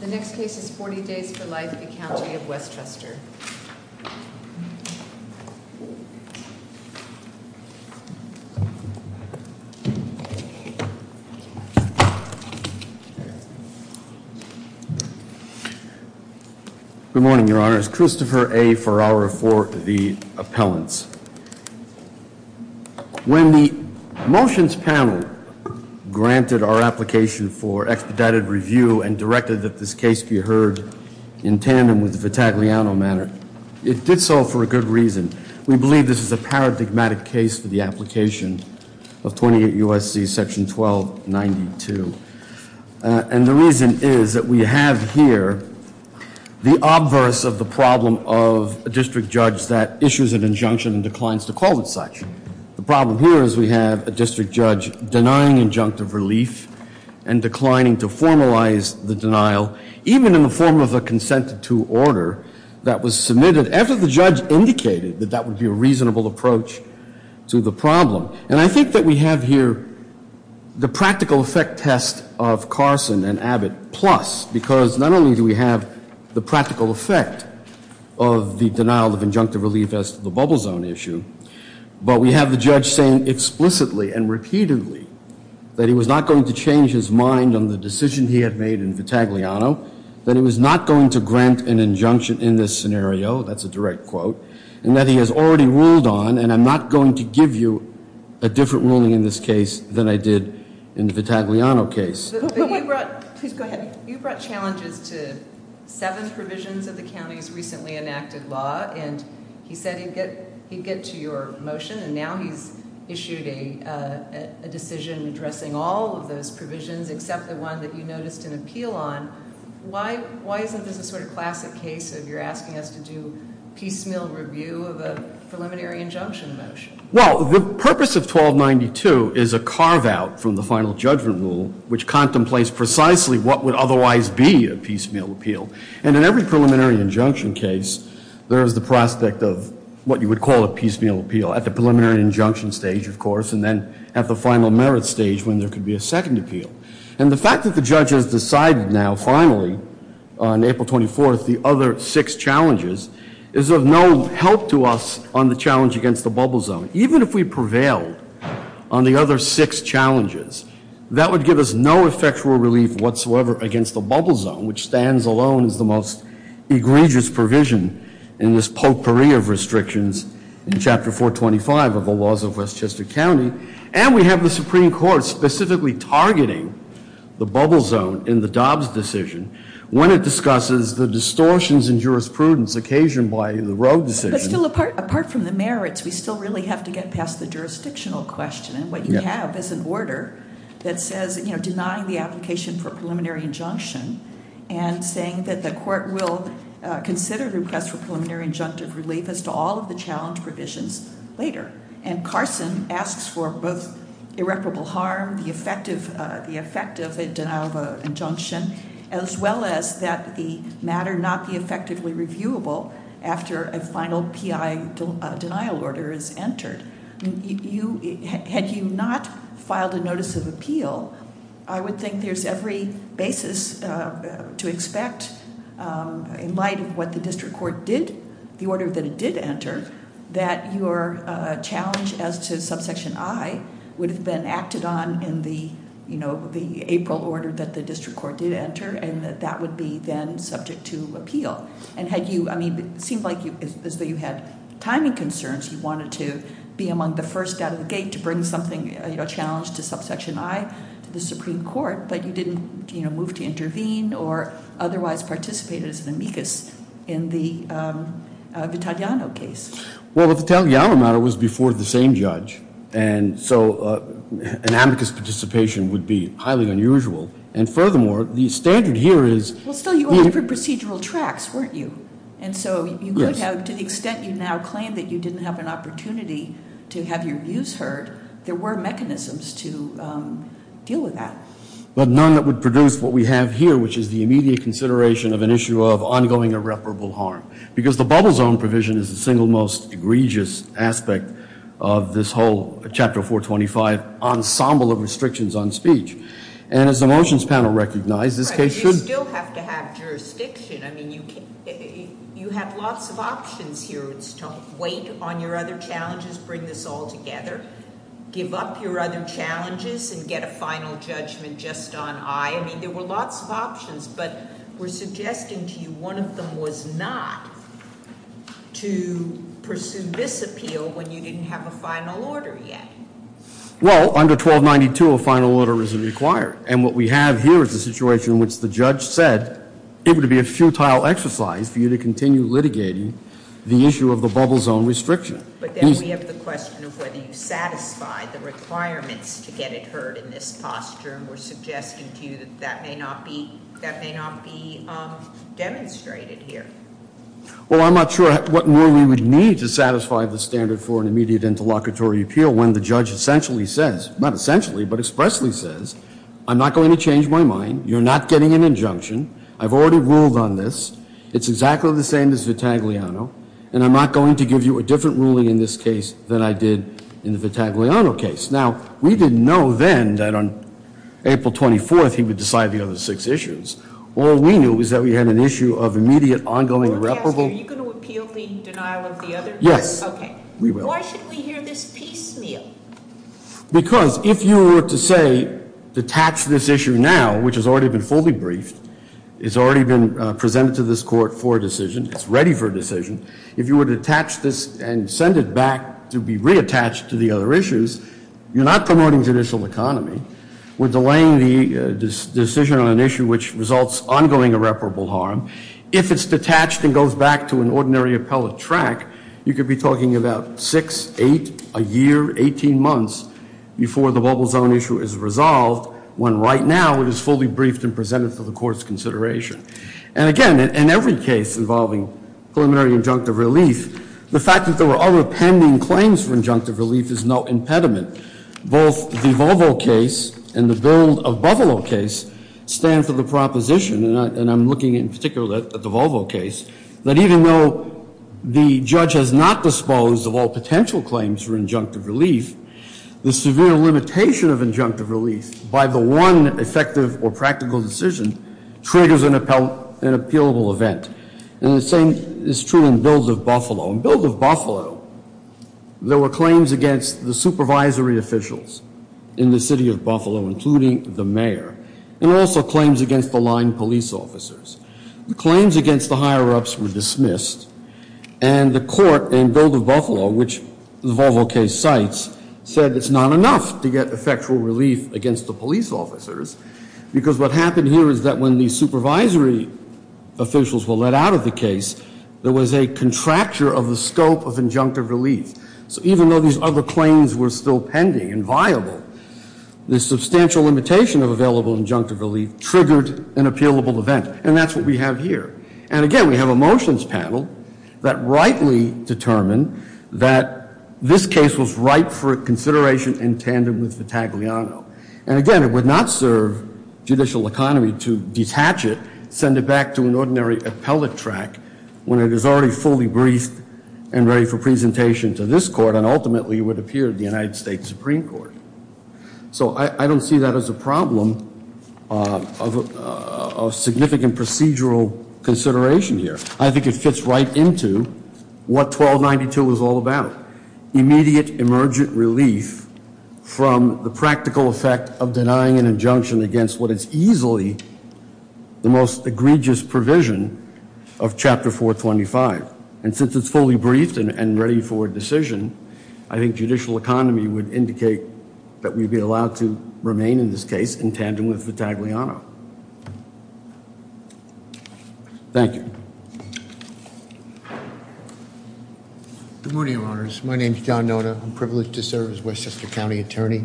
The next case is 40 Days for Life v. County of Westchester. Good morning, Your Honor. It's Christopher A. Farrara for the appellants. When the motions panel granted our application for expedited review and directed that this case be heard in tandem with the Vitagliano matter, it did so for a good reason. We believe this is a paradigmatic case for the application of 28 U.S.C. Section 1292. And the reason is that we have here the obverse of the problem of a district judge that issues an injunction and declines to call it such. The problem here is we have a district judge denying injunctive relief and declining to formalize the denial, even in the form of a consent to order that was submitted after the judge indicated that that would be a reasonable approach to the problem. And I think that we have here the practical effect test of Carson and Abbott Plus, because not only do we have the practical effect of the denial of injunctive relief as to the bubble zone issue, but we have the judge saying explicitly and repeatedly that he was not going to change his mind on the decision he had made in Vitagliano, that he was not going to grant an injunction in this scenario, that's a direct quote, and that he has already ruled on, and I'm not going to give you a different ruling in this case than I did in the Vitagliano case. But you brought challenges to seven provisions of the county's recently enacted law, and he said he'd get to your motion, and now he's issued a decision addressing all of those provisions except the one that you noticed an appeal on. Why isn't this a sort of classic case of you're asking us to do piecemeal review of a preliminary injunction motion? Well, the purpose of 1292 is a carve-out from the final judgment rule, which contemplates precisely what would otherwise be a piecemeal appeal. And in every preliminary injunction case, there is the prospect of what you would call a piecemeal appeal, at the preliminary injunction stage, of course, and then at the final merit stage when there could be a second appeal. And the fact that the judge has decided now, finally, on April 24th, the other six challenges, is of no help to us on the challenge against the bubble zone. Even if we prevailed on the other six challenges, that would give us no effectual relief whatsoever against the bubble zone, which stands alone as the most egregious provision in this potpourri of restrictions in Chapter 425 of the laws of Westchester County. And we have the Supreme Court specifically targeting the bubble zone in the Dobbs decision when it discusses the distortions in jurisprudence occasioned by the Rowe decision. But still, apart from the merits, we still really have to get past the jurisdictional question. And what you have is an order that says denying the application for a preliminary injunction and saying that the court will consider the request for preliminary injunctive relief as to all of the challenge provisions later. And Carson asks for both irreparable harm, the effect of a denial of injunction, as well as that the matter not be effectively reviewable after a final PI denial order is entered. Had you not filed a notice of appeal, I would think there's every basis to expect, in light of what the district court did, the order that it did enter, that your challenge as to subsection I would have been acted on in the April order that the district court did enter. And that that would be then subject to appeal. And had you, I mean, it seemed like as though you had timing concerns. You wanted to be among the first out of the gate to bring something, a challenge to subsection I to the Supreme Court. But you didn't move to intervene or otherwise participate as an amicus in the Vitaliano case. Well, the Vitaliano matter was before the same judge. And so an amicus participation would be highly unusual. And furthermore, the standard here is- Well, still, you were on different procedural tracks, weren't you? Yes. And so to the extent you now claim that you didn't have an opportunity to have your views heard, there were mechanisms to deal with that. But none that would produce what we have here, which is the immediate consideration of an issue of ongoing irreparable harm. Because the bubble zone provision is the single most egregious aspect of this whole Chapter 425 ensemble of restrictions on speech. And as the motions panel recognized, this case should- Right, you still have to have jurisdiction. I mean, you have lots of options here. Don't wait on your other challenges. Bring this all together. Give up your other challenges and get a final judgment just on I. I mean, there were lots of options. But we're suggesting to you one of them was not to pursue this appeal when you didn't have a final order yet. Well, under 1292, a final order isn't required. And what we have here is a situation in which the judge said it would be a futile exercise for you to continue litigating the issue of the bubble zone restriction. But then we have the question of whether you satisfy the requirements to get it heard in this posture, and we're suggesting to you that that may not be demonstrated here. Well, I'm not sure what more we would need to satisfy the standard for an immediate interlocutory appeal when the judge essentially says, not essentially, but expressly says, I'm not going to change my mind. You're not getting an injunction. I've already ruled on this. It's exactly the same as Vitagliano, and I'm not going to give you a different ruling in this case than I did in the Vitagliano case. Now, we didn't know then that on April 24th he would decide the other six issues. All we knew was that we had an issue of immediate ongoing irreparable- Are you going to appeal the denial of the other- Yes. Okay. We will. Why should we hear this piecemeal? Because if you were to say, detach this issue now, which has already been fully briefed, it's already been presented to this court for a decision, it's ready for a decision, if you were to attach this and send it back to be reattached to the other issues, you're not promoting judicial economy. We're delaying the decision on an issue which results ongoing irreparable harm. If it's detached and goes back to an ordinary appellate track, you could be talking about six, eight, a year, 18 months before the Volvo Zone issue is resolved, when right now it is fully briefed and presented for the court's consideration. And again, in every case involving preliminary injunctive relief, the fact that there were other pending claims for injunctive relief is no impediment. Both the Volvo case and the build of Buffalo case stand for the proposition, and I'm looking in particular at the Volvo case, that even though the judge has not disposed of all potential claims for injunctive relief, the severe limitation of injunctive relief by the one effective or practical decision triggers an appealable event. And the same is true in build of Buffalo. In build of Buffalo, there were claims against the supervisory officials in the city of Buffalo, including the mayor, and also claims against the line police officers. The claims against the higher-ups were dismissed, and the court in build of Buffalo, which the Volvo case cites, said it's not enough to get effectual relief against the police officers, because what happened here is that when the supervisory officials were let out of the case, there was a contracture of the scope of injunctive relief. The substantial limitation of available injunctive relief triggered an appealable event, and that's what we have here. And again, we have a motions panel that rightly determined that this case was ripe for consideration in tandem with Vitagliano. And again, it would not serve judicial economy to detach it, send it back to an ordinary appellate track, when it is already fully briefed and ready for presentation to this court, and ultimately would appear at the United States Supreme Court. So I don't see that as a problem of significant procedural consideration here. I think it fits right into what 1292 is all about, immediate emergent relief from the practical effect of denying an injunction against what is easily the most egregious provision of Chapter 425. And since it's fully briefed and ready for a decision, I think judicial economy would indicate that we'd be allowed to remain in this case in tandem with Vitagliano. Thank you. Good morning, Your Honors. My name is John Nona. I'm privileged to serve as Westchester County Attorney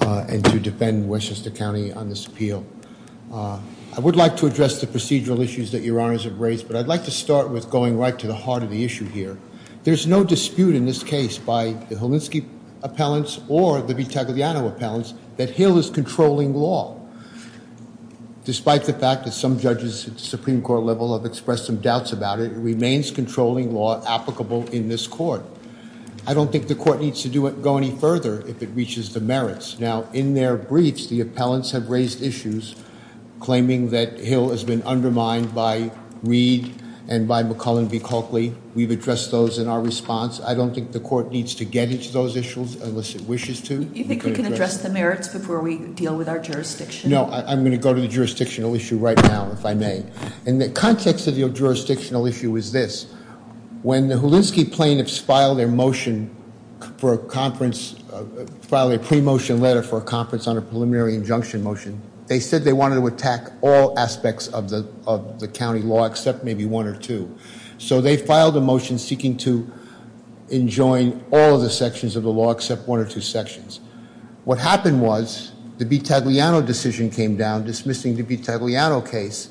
and to defend Westchester County on this appeal. I would like to address the procedural issues that Your Honors have raised, but I'd like to start with going right to the heart of the issue here. There's no dispute in this case by the Holinsky appellants or the Vitagliano appellants that Hill is controlling law. Despite the fact that some judges at the Supreme Court level have expressed some doubts about it, it remains controlling law applicable in this court. I don't think the court needs to go any further if it reaches the merits. Now, in their briefs, the appellants have raised issues claiming that Hill has been undermined by Reed and by McCullen v. Copley. We've addressed those in our response. I don't think the court needs to get into those issues unless it wishes to. You think we can address the merits before we deal with our jurisdiction? No, I'm going to go to the jurisdictional issue right now, if I may. And the context of the jurisdictional issue is this. When the Holinsky plaintiffs filed their motion for a conference, filed a pre-motion letter for a conference on a preliminary injunction motion, they said they wanted to attack all aspects of the county law except maybe one or two. So they filed a motion seeking to enjoin all of the sections of the law except one or two sections. What happened was the B. Tagliano decision came down, dismissing the B. Tagliano case,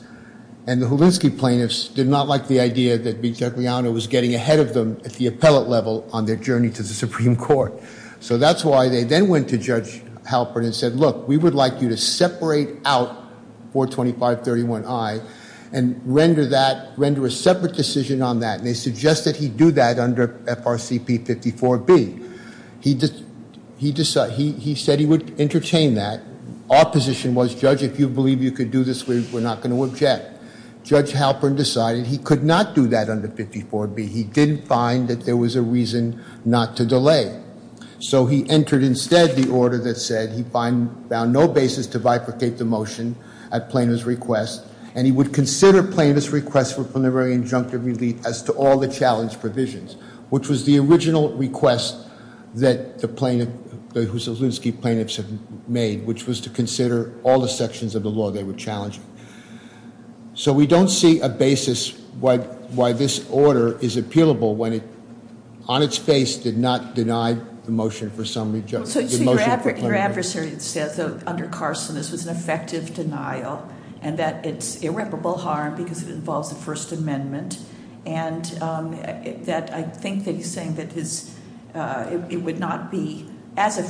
and the Holinsky plaintiffs did not like the idea that B. Tagliano was getting ahead of them at the appellate level on their journey to the Supreme Court. So that's why they then went to Judge Halpern and said, look, we would like you to separate out 425.31i and render that, render a separate decision on that. And they suggested he do that under FRCP 54B. He said he would entertain that. Our position was, Judge, if you believe you could do this, we're not going to object. Judge Halpern decided he could not do that under 54B. He didn't find that there was a reason not to delay. So he entered instead the order that said he found no basis to bifurcate the motion at plaintiff's request. And he would consider plaintiff's request for preliminary injunctive relief as to all the challenge provisions, which was the original request that the Holinsky plaintiffs had made, which was to consider all the sections of the law they were challenging. So we don't see a basis why this order is appealable when it, on its face, did not deny the motion for some, the motion for- So your adversary says that under Carson this was an effective denial and that it's irreparable harm because it involves the First Amendment. And that I think that he's saying that it would not be as the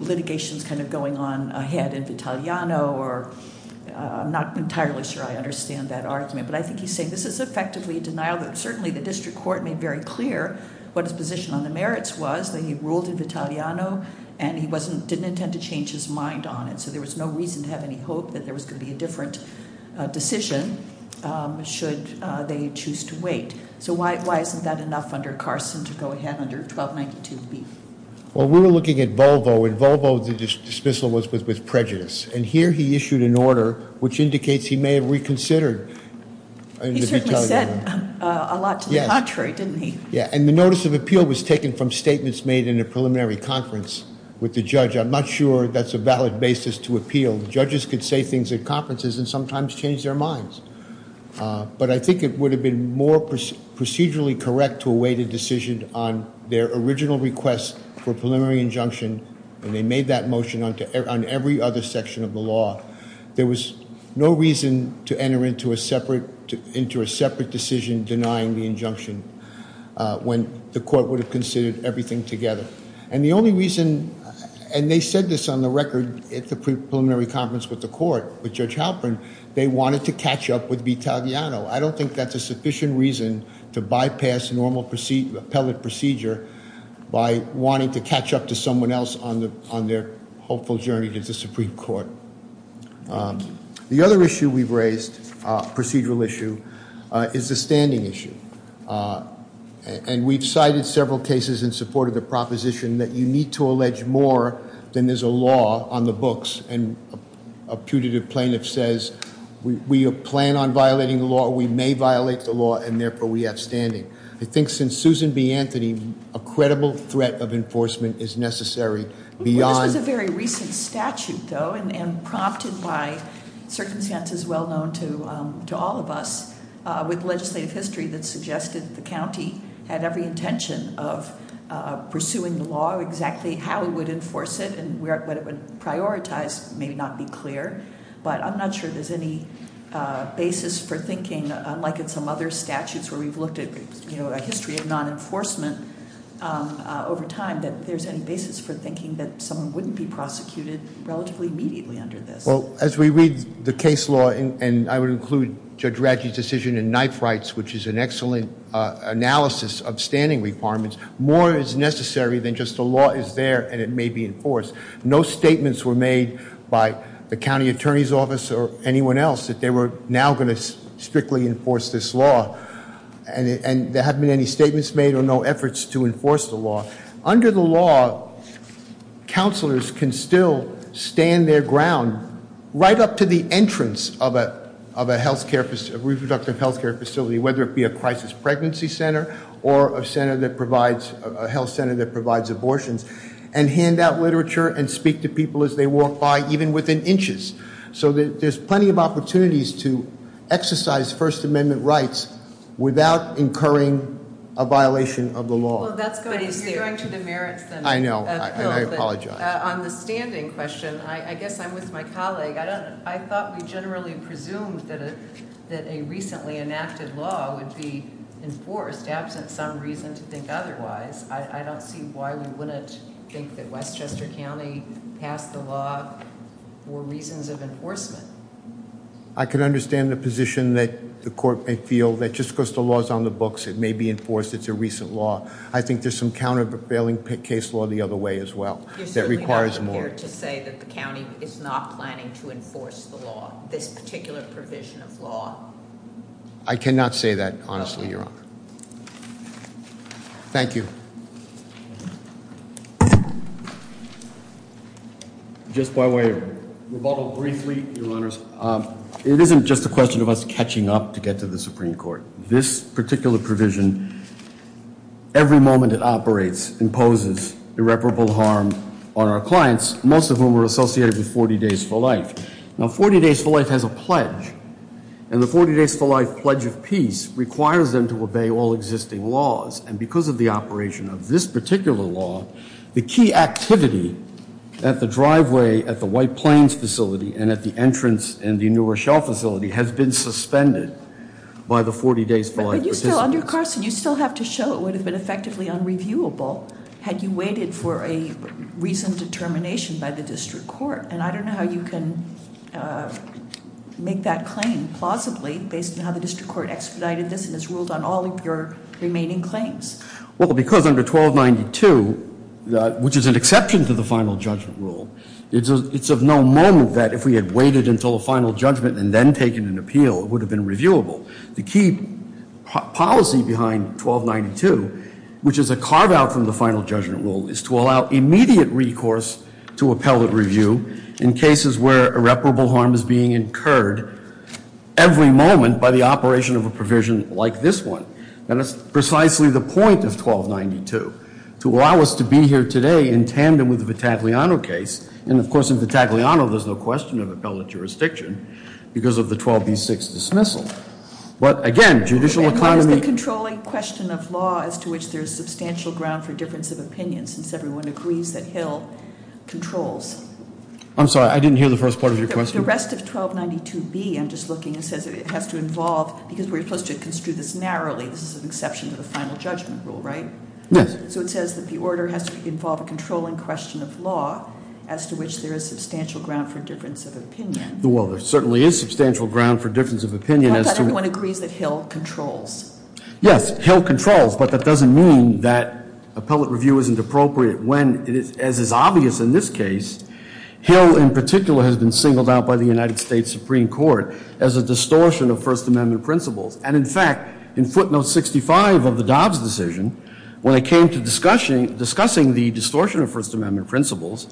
litigation's kind of going on ahead in Vitaliano or I'm not entirely sure I understand that argument. But I think he's saying this is effectively a denial that certainly the district court made very clear what his position on the merits was. That he ruled in Vitaliano and he didn't intend to change his mind on it. So there was no reason to have any hope that there was going to be a different decision should they choose to wait. So why isn't that enough under Carson to go ahead under 1292B? Well, we were looking at Volvo, and Volvo's dismissal was with prejudice. And here he issued an order which indicates he may have reconsidered. He certainly said a lot to the contrary, didn't he? Yeah, and the notice of appeal was taken from statements made in a preliminary conference with the judge. I'm not sure that's a valid basis to appeal. Judges could say things at conferences and sometimes change their minds. But I think it would have been more procedurally correct to await a decision on their original request for preliminary injunction when they made that motion on every other section of the law. There was no reason to enter into a separate decision denying the injunction. When the court would have considered everything together. And the only reason, and they said this on the record at the preliminary conference with the court, with Judge Halpern. They wanted to catch up with Vitagliano. I don't think that's a sufficient reason to bypass normal appellate procedure by wanting to catch up to someone else on their hopeful journey to the Supreme Court. The other issue we've raised, procedural issue, is the standing issue. And we've cited several cases in support of the proposition that you need to allege more than there's a law on the books. And a putative plaintiff says, we plan on violating the law, we may violate the law, and therefore we have standing. I think since Susan B. Anthony, a credible threat of enforcement is necessary beyond- This was a very recent statute though, and prompted by circumstances well known to all of us. With legislative history that suggested the county had every intention of pursuing the law, exactly how it would enforce it and what it would prioritize may not be clear. But I'm not sure there's any basis for thinking, unlike in some other statutes where we've looked at a history of non-enforcement over time, that there's any basis for thinking that someone wouldn't be prosecuted relatively immediately under this. Well, as we read the case law, and I would include Judge Ratchie's decision in Knife Rights, which is an excellent analysis of standing requirements, more is necessary than just the law is there and it may be enforced. No statements were made by the county attorney's office or anyone else that they were now going to strictly enforce this law. And there haven't been any statements made or no efforts to enforce the law. Under the law, counselors can still stand their ground right up to the entrance of a reproductive health care facility, whether it be a crisis pregnancy center or a health center that provides abortions. And hand out literature and speak to people as they walk by, even within inches. So there's plenty of opportunities to exercise First Amendment rights without incurring a violation of the law. Well, that's going to the merits then. I know, and I apologize. On the standing question, I guess I'm with my colleague. I thought we generally presumed that a recently enacted law would be enforced, absent some reason to think otherwise. I don't see why we wouldn't think that Westchester County passed the law for reasons of enforcement. I can understand the position that the court may feel that just because the law's on the books, it may be enforced, it's a recent law. I think there's some countervailing case law the other way as well, that requires more. You're certainly not prepared to say that the county is not planning to enforce the law, this particular provision of law. I cannot say that, honestly, Your Honor. Thank you. Just by way of rebuttal briefly, Your Honors, it isn't just a question of us catching up to get to the Supreme Court. This particular provision, every moment it operates, imposes irreparable harm on our clients, most of whom are associated with 40 Days for Life. Now, 40 Days for Life has a pledge, and the 40 Days for Life Pledge of Peace requires them to obey all existing laws. And because of the operation of this particular law, the key activity at the driveway, at the White Plains facility, and at the entrance in the New Rochelle facility has been suspended by the 40 Days for Life participants. But you still, under Carson, you still have to show it would have been effectively unreviewable had you waited for a recent determination by the district court. And I don't know how you can make that claim plausibly based on how the district court expedited this and has ruled on all of your remaining claims. Well, because under 1292, which is an exception to the final judgment rule, it's of no moment that if we had waited until a final judgment and then taken an appeal, it would have been reviewable. The key policy behind 1292, which is a carve out from the final judgment rule, is to allow immediate recourse to appellate review in cases where irreparable harm is being incurred every moment by the operation of a provision like this one. And that's precisely the point of 1292, to allow us to be here today in tandem with the Vitagliano case. And of course, in Vitagliano, there's no question of appellate jurisdiction because of the 12B6 dismissal. But again, judicial economy- And what is the controlling question of law as to which there is substantial ground for difference of opinion since everyone agrees that Hill controls? I'm sorry, I didn't hear the first part of your question. The rest of 1292B, I'm just looking, it says it has to involve, because we're supposed to construe this narrowly, this is an exception to the final judgment rule, right? Yes. So it says that the order has to involve a controlling question of law as to which there is substantial ground for difference of opinion. Well, there certainly is substantial ground for difference of opinion as to- Not that everyone agrees that Hill controls. Yes, Hill controls, but that doesn't mean that appellate review isn't appropriate when, as is obvious in this case, Hill in particular has been singled out by the United States Supreme Court as a distortion of First Amendment principles. And in fact, in footnote 65 of the Dobbs decision, when it came to discussing the distortion of First Amendment principles,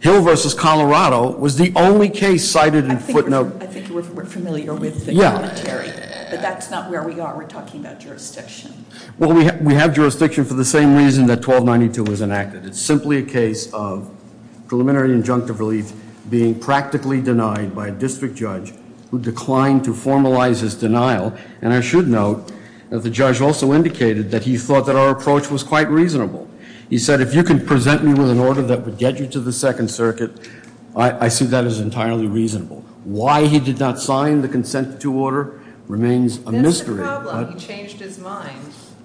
Hill versus Colorado was the only case cited in footnote- I think we're familiar with the commentary, but that's not where we are. We're talking about jurisdiction. Well, we have jurisdiction for the same reason that 1292 was enacted. It's simply a case of preliminary injunctive relief being practically denied by a district judge who declined to formalize his denial. And I should note that the judge also indicated that he thought that our approach was quite reasonable. He said, if you can present me with an order that would get you to the Second Circuit, I see that as entirely reasonable. Why he did not sign the consent to order remains a mystery. That's the problem. He changed his mind.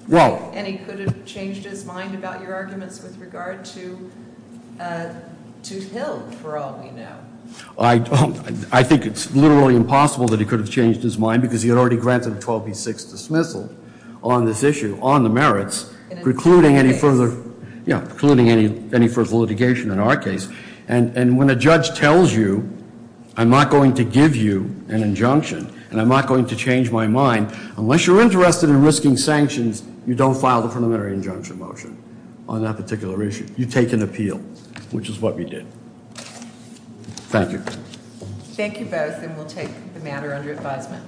Well- And he could have changed his mind about your arguments with regard to Hill, for all we know. I think it's literally impossible that he could have changed his mind because he had already granted a 12B6 dismissal on this issue, on the merits, precluding any further litigation in our case. And when a judge tells you, I'm not going to give you an injunction, and I'm not going to change my mind, unless you're interested in risking sanctions, you don't file the preliminary injunction motion on that particular issue. You take an appeal, which is what we did. Thank you. Thank you both, and we'll take the matter under advisement.